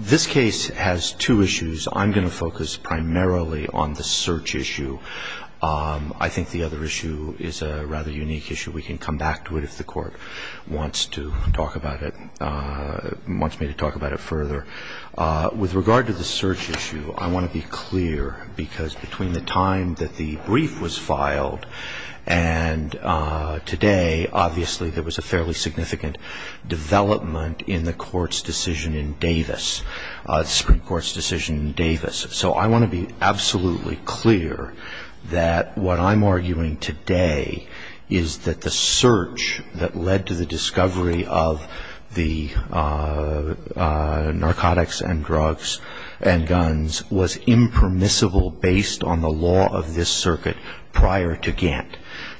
This case has two issues. I'm going to focus primarily on the search issue. I think the other issue is a rather unique issue. We can come back to it if the court wants to talk about it, wants me to talk about it further. With regard to the search issue, I want to be clear, because between the time that the brief was filed and today, obviously there was a fairly significant development in the Supreme Court's decision in Davis. So I want to be absolutely clear that what I'm arguing today is that the search that led to the discovery of the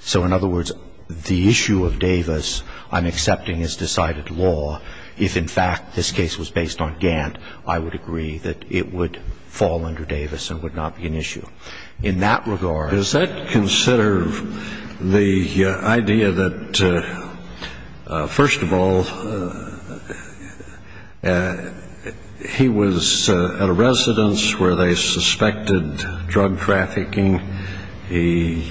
So in other words, the issue of Davis, I'm accepting as decided law. If, in fact, this case was based on Gant, I would agree that it would fall under Davis and would not be an issue. In that regard — The idea that, first of all, he was at a residence where they suspected drug trafficking. He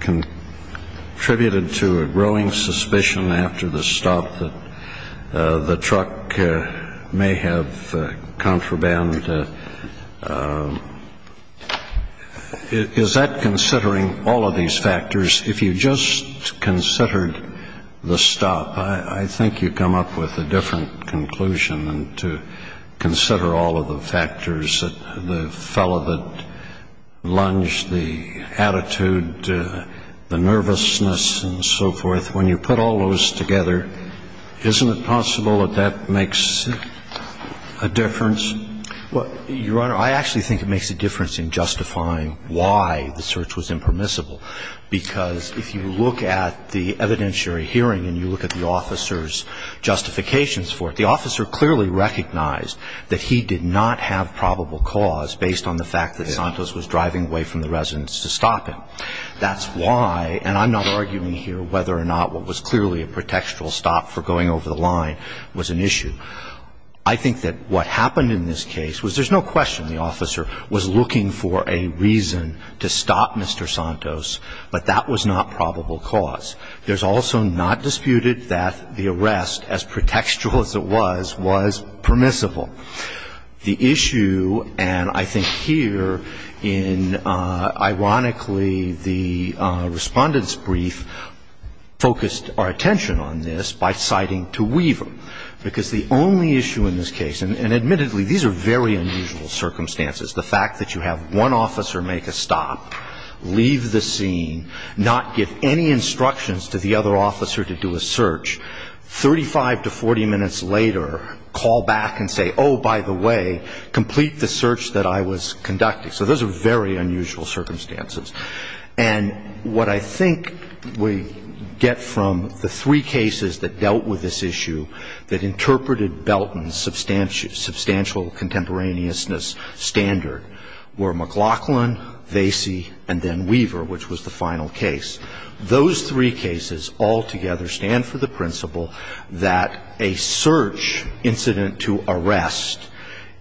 contributed to a growing suspicion after the stop that the truck may have contraband. And is that considering all of these factors? If you just considered the stop, I think you come up with a different conclusion than to consider all of the factors, the fellow that lunged, the attitude, the nervousness and so forth. When you put all those together, isn't it possible that that makes a difference? Your Honor, I actually think it makes a difference in justifying why the search was impermissible. Because if you look at the evidentiary hearing and you look at the officer's justifications for it, the officer clearly recognized that he did not have probable cause based on the fact that Santos was driving away from the residence to stop him. That's why, and I'm not arguing here whether or not what was clearly a pretextual stop for going over the line was an issue. I think that what happened in this case was there's no question the officer was looking for a reason to stop Mr. Santos, but that was not probable cause. There's also not disputed that the arrest, as pretextual as it was, was permissible. The issue, and I think here in ironically the respondent's brief focused our attention on this by citing to Weaver, because the only issue in this case, and admittedly these are very unusual circumstances, the fact that you have one officer make a stop, leave the scene, not give any instructions to the other officer to do a search, 35 to 40 minutes later call back and say, oh, by the way, complete the search that I was conducting. So those are very unusual circumstances. And what I think we get from the three cases that dealt with this issue, that interpreted Belton's substantial contemporaneousness standard, were McLaughlin, Vasey, and then Weaver, which was the final case. Those three cases altogether stand for the principle that a search incident to arrest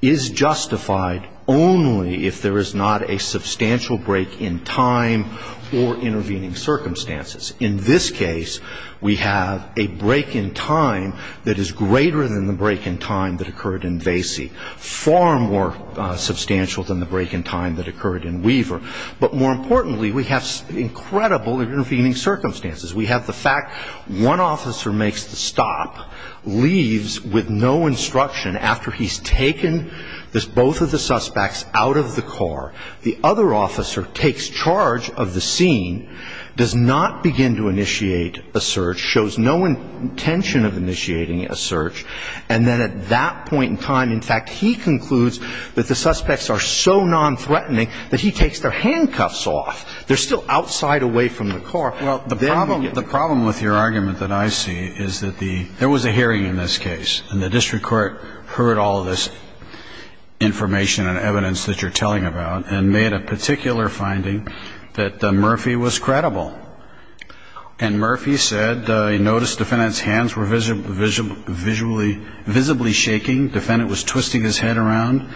is justified only if there is not a substantial break in time or intervening circumstances. In this case, we have a break in time that is greater than the break in time that occurred in Vasey, far more substantial than the break in time that occurred in Weaver. But more importantly, we have incredible intervening circumstances. We have the fact one officer makes the stop, leaves with no instruction, after he's taken both of the suspects out of the car. The other officer takes charge of the scene, does not begin to initiate a search, shows no intention of initiating a search, and then at that point in time, in fact, he concludes that the suspects are so nonthreatening that he takes their handcuffs off. They're still outside, away from the car. Well, the problem with your argument that I see is that there was a hearing in this case, and the district court heard all this information and evidence that you're telling about and made a particular finding that Murphy was credible. And Murphy said he noticed the defendant's hands were visibly shaking. The defendant was twisting his head around.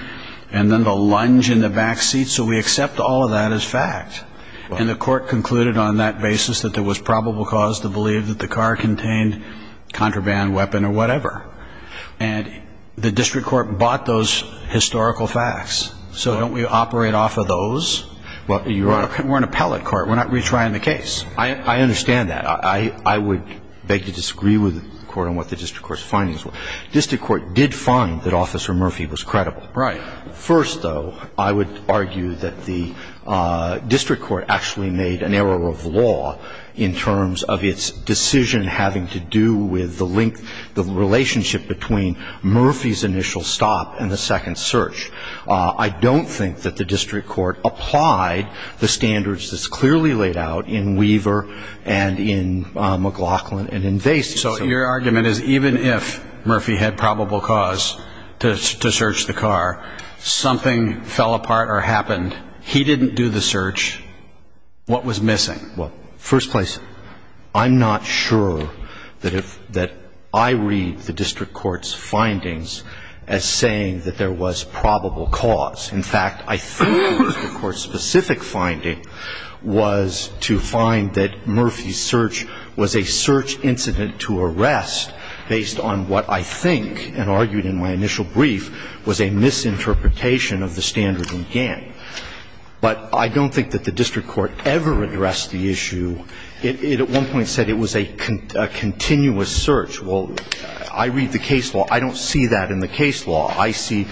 And then the lunge in the back seat. So we accept all of that as fact. And the court concluded on that basis that there was probable cause to believe that the car contained contraband, weapon, or whatever. And the district court bought those historical facts. So don't we operate off of those? We're an appellate court. We're not retrying the case. I understand that. I would beg to disagree with the court on what the district court's findings were. District court did find that Officer Murphy was credible. Right. First, though, I would argue that the district court actually made an error of law in terms of its decision having to do with the link, the relationship between Murphy's initial stop and the second search. I don't think that the district court applied the standards that's clearly laid out in Weaver and in McLaughlin and in Vasey. So your argument is even if Murphy had probable cause to search the car, something fell apart or happened, he didn't do the search, what was missing? Well, first place, I'm not sure that I read the district court's findings as saying that there was probable cause. In fact, I think the district court's specific finding was to find that Murphy's search was a search incident to arrest based on what I think and argued in my initial brief was a misinterpretation of the standard and GAN. But I don't think that the district court ever addressed the issue. It at one point said it was a continuous search. Well, I read the case law. I don't see that in the case law. I see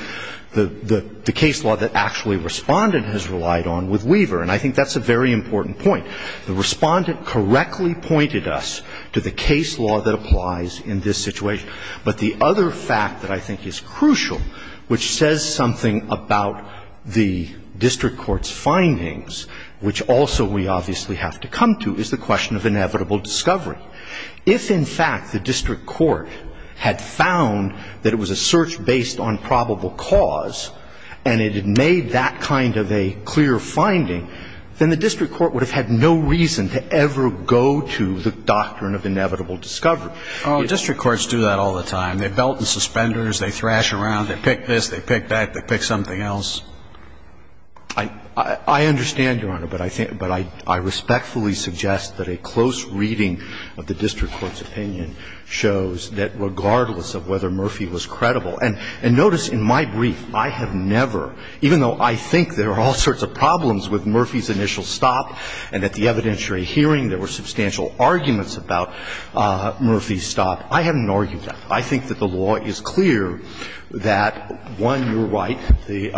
the case law that actually Respondent has relied on with Weaver. And I think that's a very important point. The Respondent correctly pointed us to the case law that applies in this situation. But the other fact that I think is crucial, which says something about the district court's findings, which also we obviously have to come to, is the question of inevitable discovery. If, in fact, the district court had found that it was a search based on probable cause and it had made that kind of a clear finding, then the district court would have had no reason to ever go to the doctrine of inevitable discovery. District courts do that all the time. They belt and suspenders. They thrash around. They pick this. They pick that. They pick something else. I understand, Your Honor, but I respectfully suggest that a close reading of the district court's opinion shows that regardless of whether Murphy was credible, and notice in my brief I have never, even though I think there are all sorts of problems with Murphy's initial stop and at the evidentiary hearing there were substantial arguments about Murphy's stop, I haven't argued that. I think that the law is clear that, one, you're right, the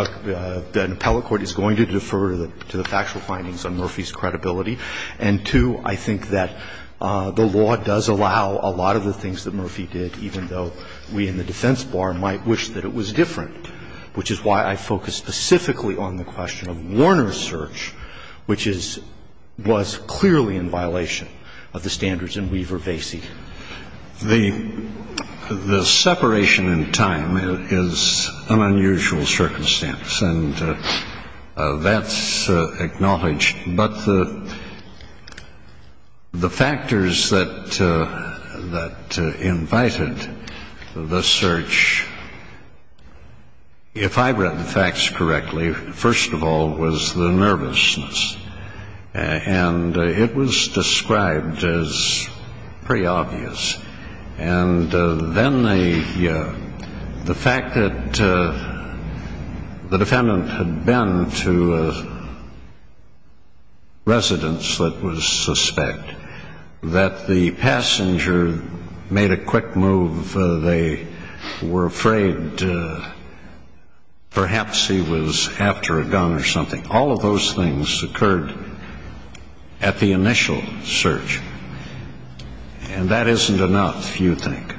appellate court is going to defer to the factual findings on Murphy's credibility, and, two, I think that the law does allow a lot of the things that Murphy did, even though we in the defense bar might wish that it was different, which is why I focus specifically on the question of Warner's search, which is — was clearly in violation of the standards in Weaver-Vasey. The separation in time is an unusual circumstance, and that's acknowledged. But the factors that invited the search, if I've read the facts correctly, first of all was the nervousness. And it was described as pretty obvious. And then the fact that the defendant had been to a residence that was suspect, that the passenger made a quick move, they were afraid perhaps he was after a gun or something. And all of those things occurred at the initial search. And that isn't enough, you think.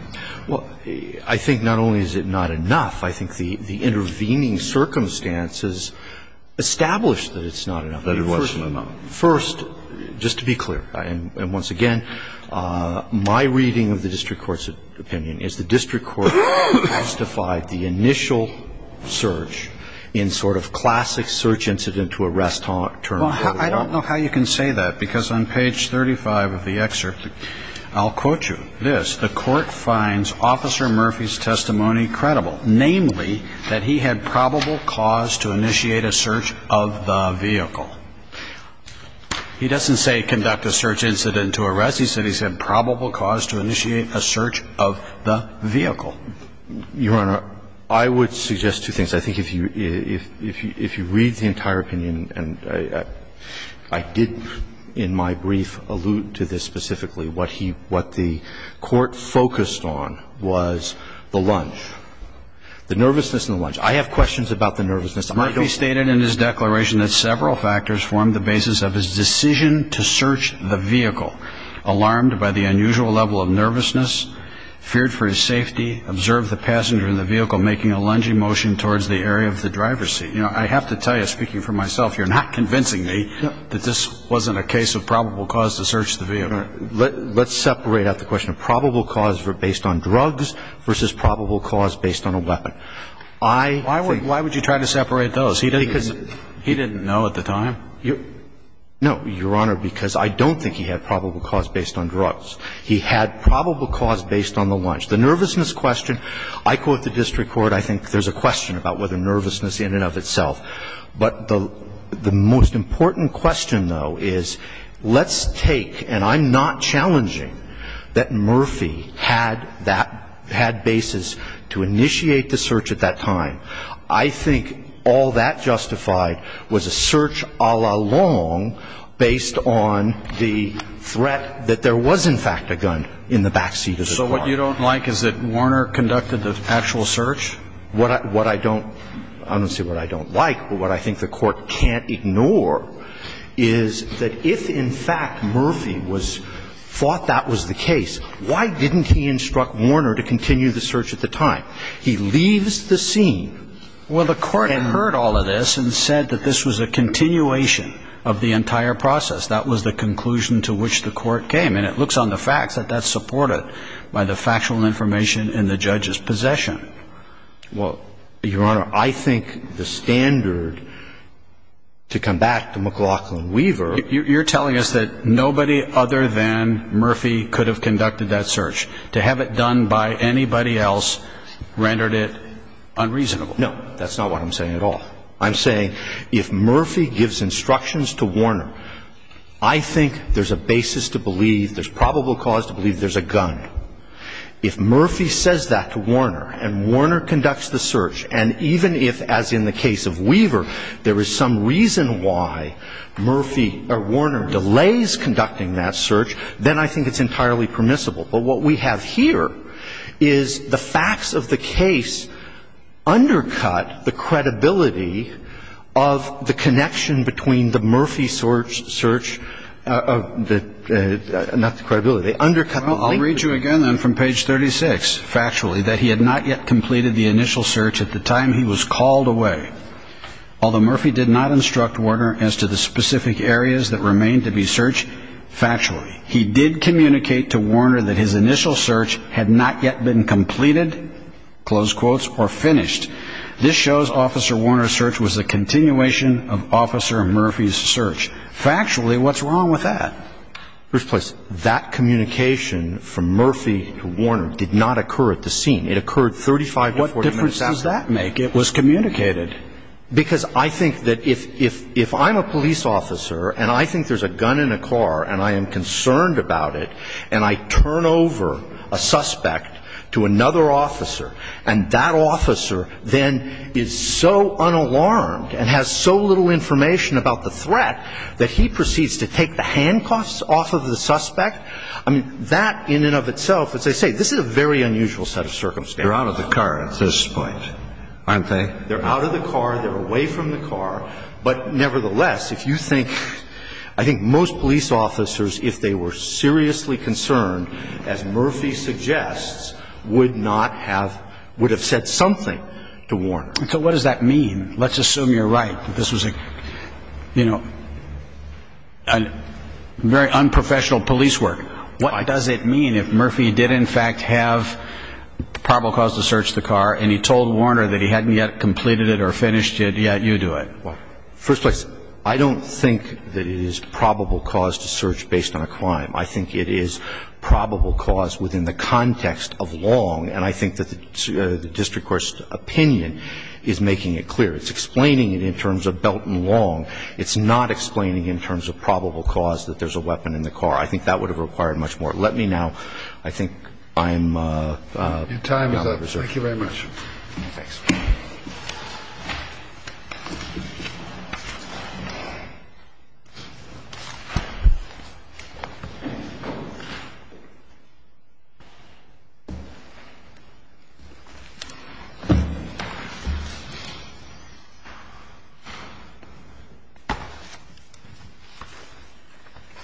Well, I think not only is it not enough, I think the intervening circumstances establish that it's not enough. That it wasn't enough. First, just to be clear, and once again, my reading of the district court's opinion is the district court justified the initial search in sort of classic search incident to arrest term. Well, I don't know how you can say that, because on page 35 of the excerpt, I'll quote you this, the court finds Officer Murphy's testimony credible, namely that he had probable cause to initiate a search of the vehicle. He doesn't say conduct a search incident to arrest. He said he said probable cause to initiate a search of the vehicle. Your Honor, I would suggest two things. I think if you read the entire opinion, and I did in my brief allude to this specifically, what the court focused on was the lunge, the nervousness in the lunge. I have questions about the nervousness. Murphy stated in his declaration that several factors formed the basis of his decision to search the vehicle, alarmed by the unusual level of nervousness, feared for his safety, observed the passenger in the vehicle making a lunging motion towards the area of the driver's seat. You know, I have to tell you, speaking for myself, you're not convincing me that this wasn't a case of probable cause to search the vehicle. Let's separate out the question of probable cause based on drugs versus probable cause based on a weapon. Why would you try to separate those? He didn't know at the time. No, Your Honor, because I don't think he had probable cause based on drugs. He had probable cause based on the lunge. The nervousness question, I quote the district court, I think there's a question about whether nervousness in and of itself. But the most important question, though, is let's take, and I'm not challenging that Murphy had that, had basis to initiate the search at that time. I think all that justified was a search a la long based on the threat that there was in fact a gun in the back seat of the car. So what you don't like is that Warner conducted the actual search? What I don't, I don't want to say what I don't like, but what I think the court can't ignore is that if in fact Murphy was, thought that was the case, why didn't he instruct Warner to continue the search at the time? He leaves the scene. Well, the court heard all of this and said that this was a continuation of the entire process. That was the conclusion to which the court came. And it looks on the facts that that's supported by the factual information in the judge's possession. Well, Your Honor, I think the standard to come back to McLaughlin Weaver. You're telling us that nobody other than Murphy could have conducted that search. To have it done by anybody else rendered it unreasonable. No. That's not what I'm saying at all. I'm saying if Murphy gives instructions to Warner, I think there's a basis to believe, there's probable cause to believe there's a gun. If Murphy says that to Warner and Warner conducts the search, and even if, as in the case of Weaver, there is some reason why Murphy or Warner delays conducting that search, then I think it's entirely permissible. But what we have here is the facts of the case undercut the credibility of the connection between the Murphy search, not the credibility, undercut the link. Well, I'll read you again then from page 36, factually, that he had not yet completed the initial search at the time he was called away. Although Murphy did not instruct Warner as to the specific areas that remained to be searched, factually, he did communicate to Warner that his initial search had not yet been completed, close quotes, or finished. This shows Officer Warner's search was a continuation of Officer Murphy's search. Factually, what's wrong with that? First place, that communication from Murphy to Warner did not occur at the scene. It occurred 35 to 40 minutes after. What difference does that make? It was communicated. Because I think that if I'm a police officer and I think there's a gun in a car and I am concerned about it and I turn over a suspect to another officer and that officer then is so unalarmed and has so little information about the threat that he proceeds to take the handcuffs off of the suspect, I mean, that in and of itself, as I say, this is a very unusual set of circumstances. They're out of the car at this point, aren't they? They're out of the car. They're away from the car. But nevertheless, if you think, I think most police officers, if they were seriously concerned, as Murphy suggests, would not have, would have said something to Warner. So what does that mean? Let's assume you're right. This was, you know, a very unprofessional police work. What does it mean if Murphy did in fact have probable cause to search the car and he told Warner that he hadn't yet completed it or finished it, yet you do it? First place, I don't think that it is probable cause to search based on a crime. I think it is probable cause within the context of Long. And I think that the district court's opinion is making it clear. It's explaining it in terms of Belton Long. It's not explaining in terms of probable cause that there's a weapon in the car. I think that would have required much more. Let me now, I think I'm out of reserve. Your time is up. Thank you very much. Thanks.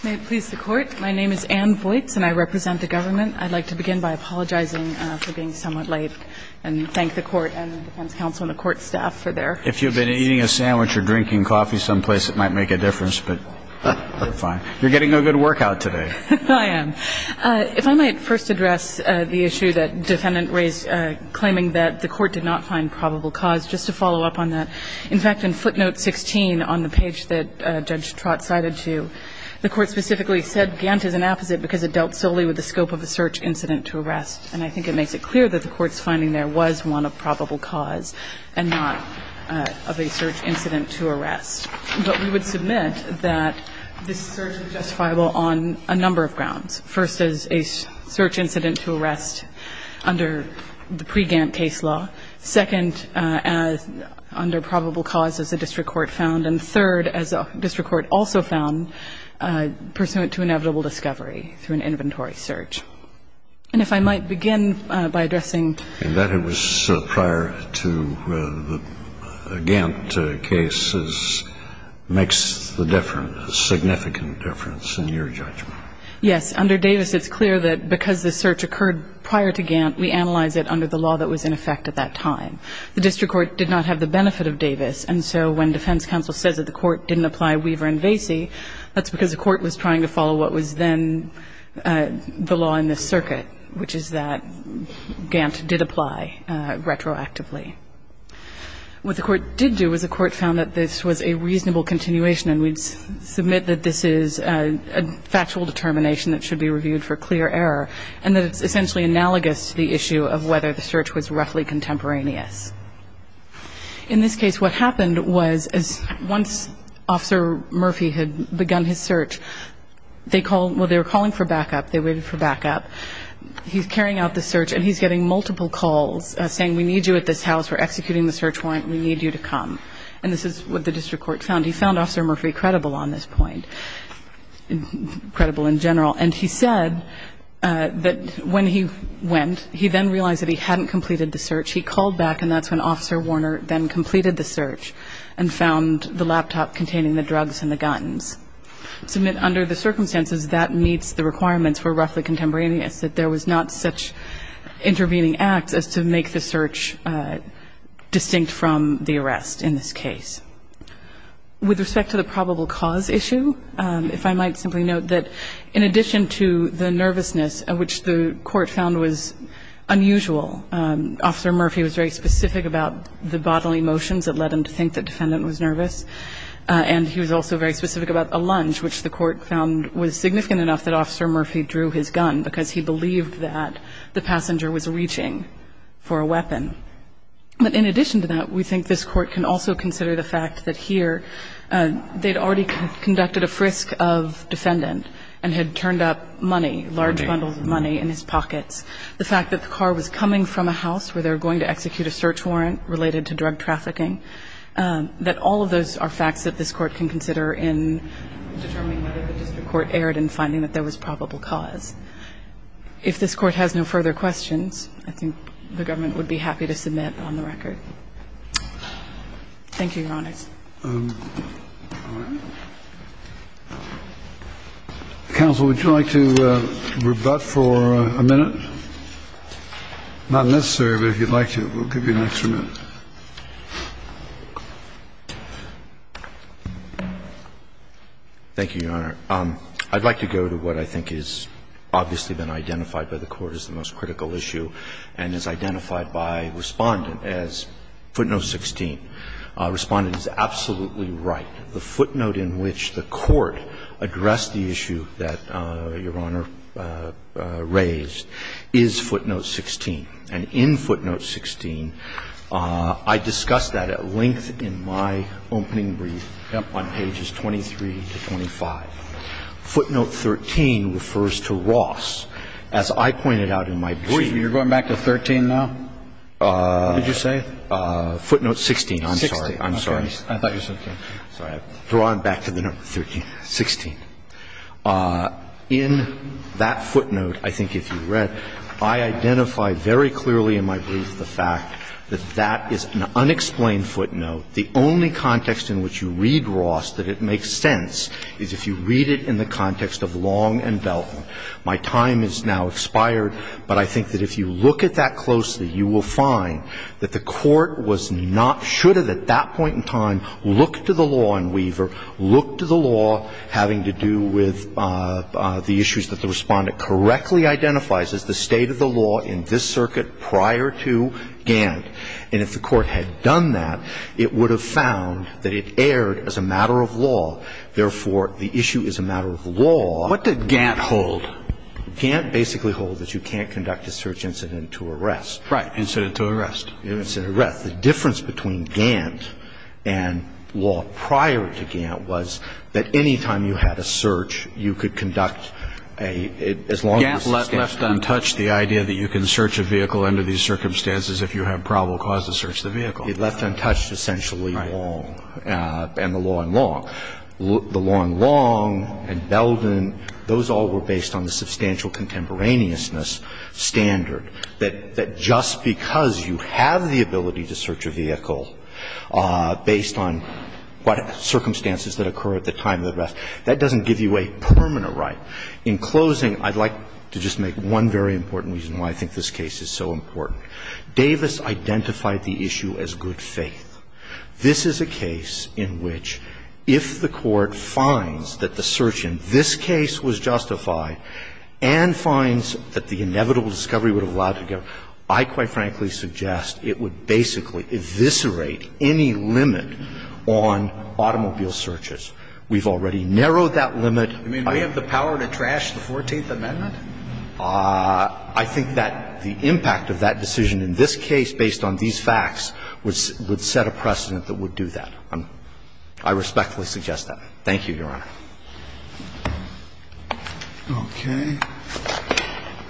May it please the Court. My name is Ann Voights and I represent the government. I'd like to begin by apologizing for being somewhat late and thank the Court and defense counsel and the Court staff for their assistance. If you've been eating a sandwich or drinking coffee someplace, it might make a difference, but we're fine. You're getting a good workout today. I am. If I might first address the issue that Defendant raised claiming that the Court did not find probable cause, just to follow up on that. In fact, in footnote 16 on the page that Judge Trott cited to you, the Court specifically said Gantt is an apposite because it dealt solely with the scope of a search incident to arrest. And I think it makes it clear that the Court's finding there was one of probable cause and not of a search incident to arrest. But we would submit that this search is justifiable on a number of grounds. First is a search incident to arrest under the pre-Gantt case law. Second, under probable cause as the district court found. And third, as the district court also found, pursuant to inevitable discovery through an inventory search. And if I might begin by addressing. In that it was prior to the Gantt case makes the difference, significant difference in your judgment. Yes. Under Davis it's clear that because the search occurred prior to Gantt, we analyze it under the law that was in effect at that time. The district court did not have the benefit of Davis. And so when defense counsel says that the Court didn't apply Weaver and Vasey, that's because the Court was trying to follow what was then the law in this circuit, which is that Gantt did apply retroactively. What the Court did do was the Court found that this was a reasonable continuation and we'd submit that this is a factual determination that should be reviewed for clear error. And that it's essentially analogous to the issue of whether the search was roughly contemporaneous. In this case, what happened was once Officer Murphy had begun his search, they called, well, they were calling for backup. They waited for backup. He's carrying out the search and he's getting multiple calls saying, we need you at this house. We're executing the search warrant. We need you to come. And this is what the district court found. He found Officer Murphy credible on this point, credible in general. And he said that when he went, he then realized that he hadn't completed the search. He called back and that's when Officer Warner then completed the search and found the laptop containing the drugs and the guns. Submit under the circumstances that meets the requirements for roughly contemporaneous, that there was not such intervening act as to make the search distinct from the arrest in this case. With respect to the probable cause issue, if I might simply note that in addition to the nervousness, which the court found was unusual, Officer Murphy was very specific about the bodily motions that led him to think that the defendant was nervous. And he was also very specific about a lunge, which the court found was significant enough that Officer Murphy drew his gun because he believed that the passenger was reaching for a weapon. But in addition to that, we think this court can also consider the fact that here they'd already conducted a frisk of defendant and had turned up money, large bundles of money in his pockets. The fact that the car was coming from a house where they were going to execute a search warrant related to drug trafficking, that all of those are facts that this Court can consider in determining whether the district court erred in finding that there was probable cause. If this Court has no further questions, I think the government would be happy to submit on the record. Thank you, Your Honors. All right. Counsel, would you like to rebut for a minute? Not necessary, but if you'd like to, we'll give you an extra minute. Thank you, Your Honor. I'd like to go to what I think has obviously been identified by the Court as the most critical issue and is identified by Respondent as footnote 16. Respondent is absolutely right. The footnote in which the Court addressed the issue that Your Honor raised is footnote 16. And in footnote 16, I discussed that at length in my opening brief on pages 23 to 25. Footnote 13 refers to Ross. As I pointed out in my brief. You're going back to 13 now, did you say? Footnote 16, I'm sorry. I'm sorry. I thought you said 13. Sorry. I've drawn back to the number 13. 16. In that footnote, I think if you read, I identify very clearly in my brief the fact that that is an unexplained footnote. The only context in which you read Ross that it makes sense is if you read it in the context of Long and Belton. My time has now expired, but I think that if you look at that closely, you will find that the Court was not, should have at that point in time looked to the law in Weaver, looked to the law having to do with the issues that the Respondent correctly identifies as the state of the law in this circuit prior to Gantt. And if the Court had done that, it would have found that it erred as a matter of law. Therefore, the issue is a matter of law. What did Gantt hold? Gantt basically holds that you can't conduct a search incident to arrest. Right. Incident to arrest. Incident to arrest. The difference between Gantt and law prior to Gantt was that any time you had a search, you could conduct a as long as the state of the law. Gantt left untouched the idea that you can search a vehicle under these circumstances if you have probable cause to search the vehicle. He left untouched essentially Long. Right. And the law in Long. The law in Long and Belton, those all were based on the substantial contemporaneousness of the law, the substantial standard, that just because you have the ability to search a vehicle based on what circumstances that occur at the time of the arrest, that doesn't give you a permanent right. In closing, I'd like to just make one very important reason why I think this case is so important. Davis identified the issue as good faith. This is a case in which if the Court finds that the search in this case was justified and finds that the inevitable discovery would have allowed it to go, I quite frankly suggest it would basically eviscerate any limit on automobile searches. We've already narrowed that limit. You mean we have the power to trash the Fourteenth Amendment? I think that the impact of that decision in this case based on these facts would set a precedent that would do that. I respectfully suggest that. Thank you, Your Honor. Okay.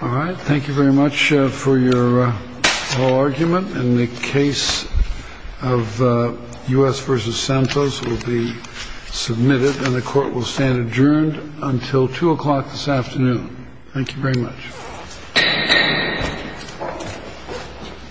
All right. Thank you very much for your whole argument. And the case of U.S. v. Santos will be submitted and the Court will stand adjourned until 2 o'clock this afternoon. Thank you very much.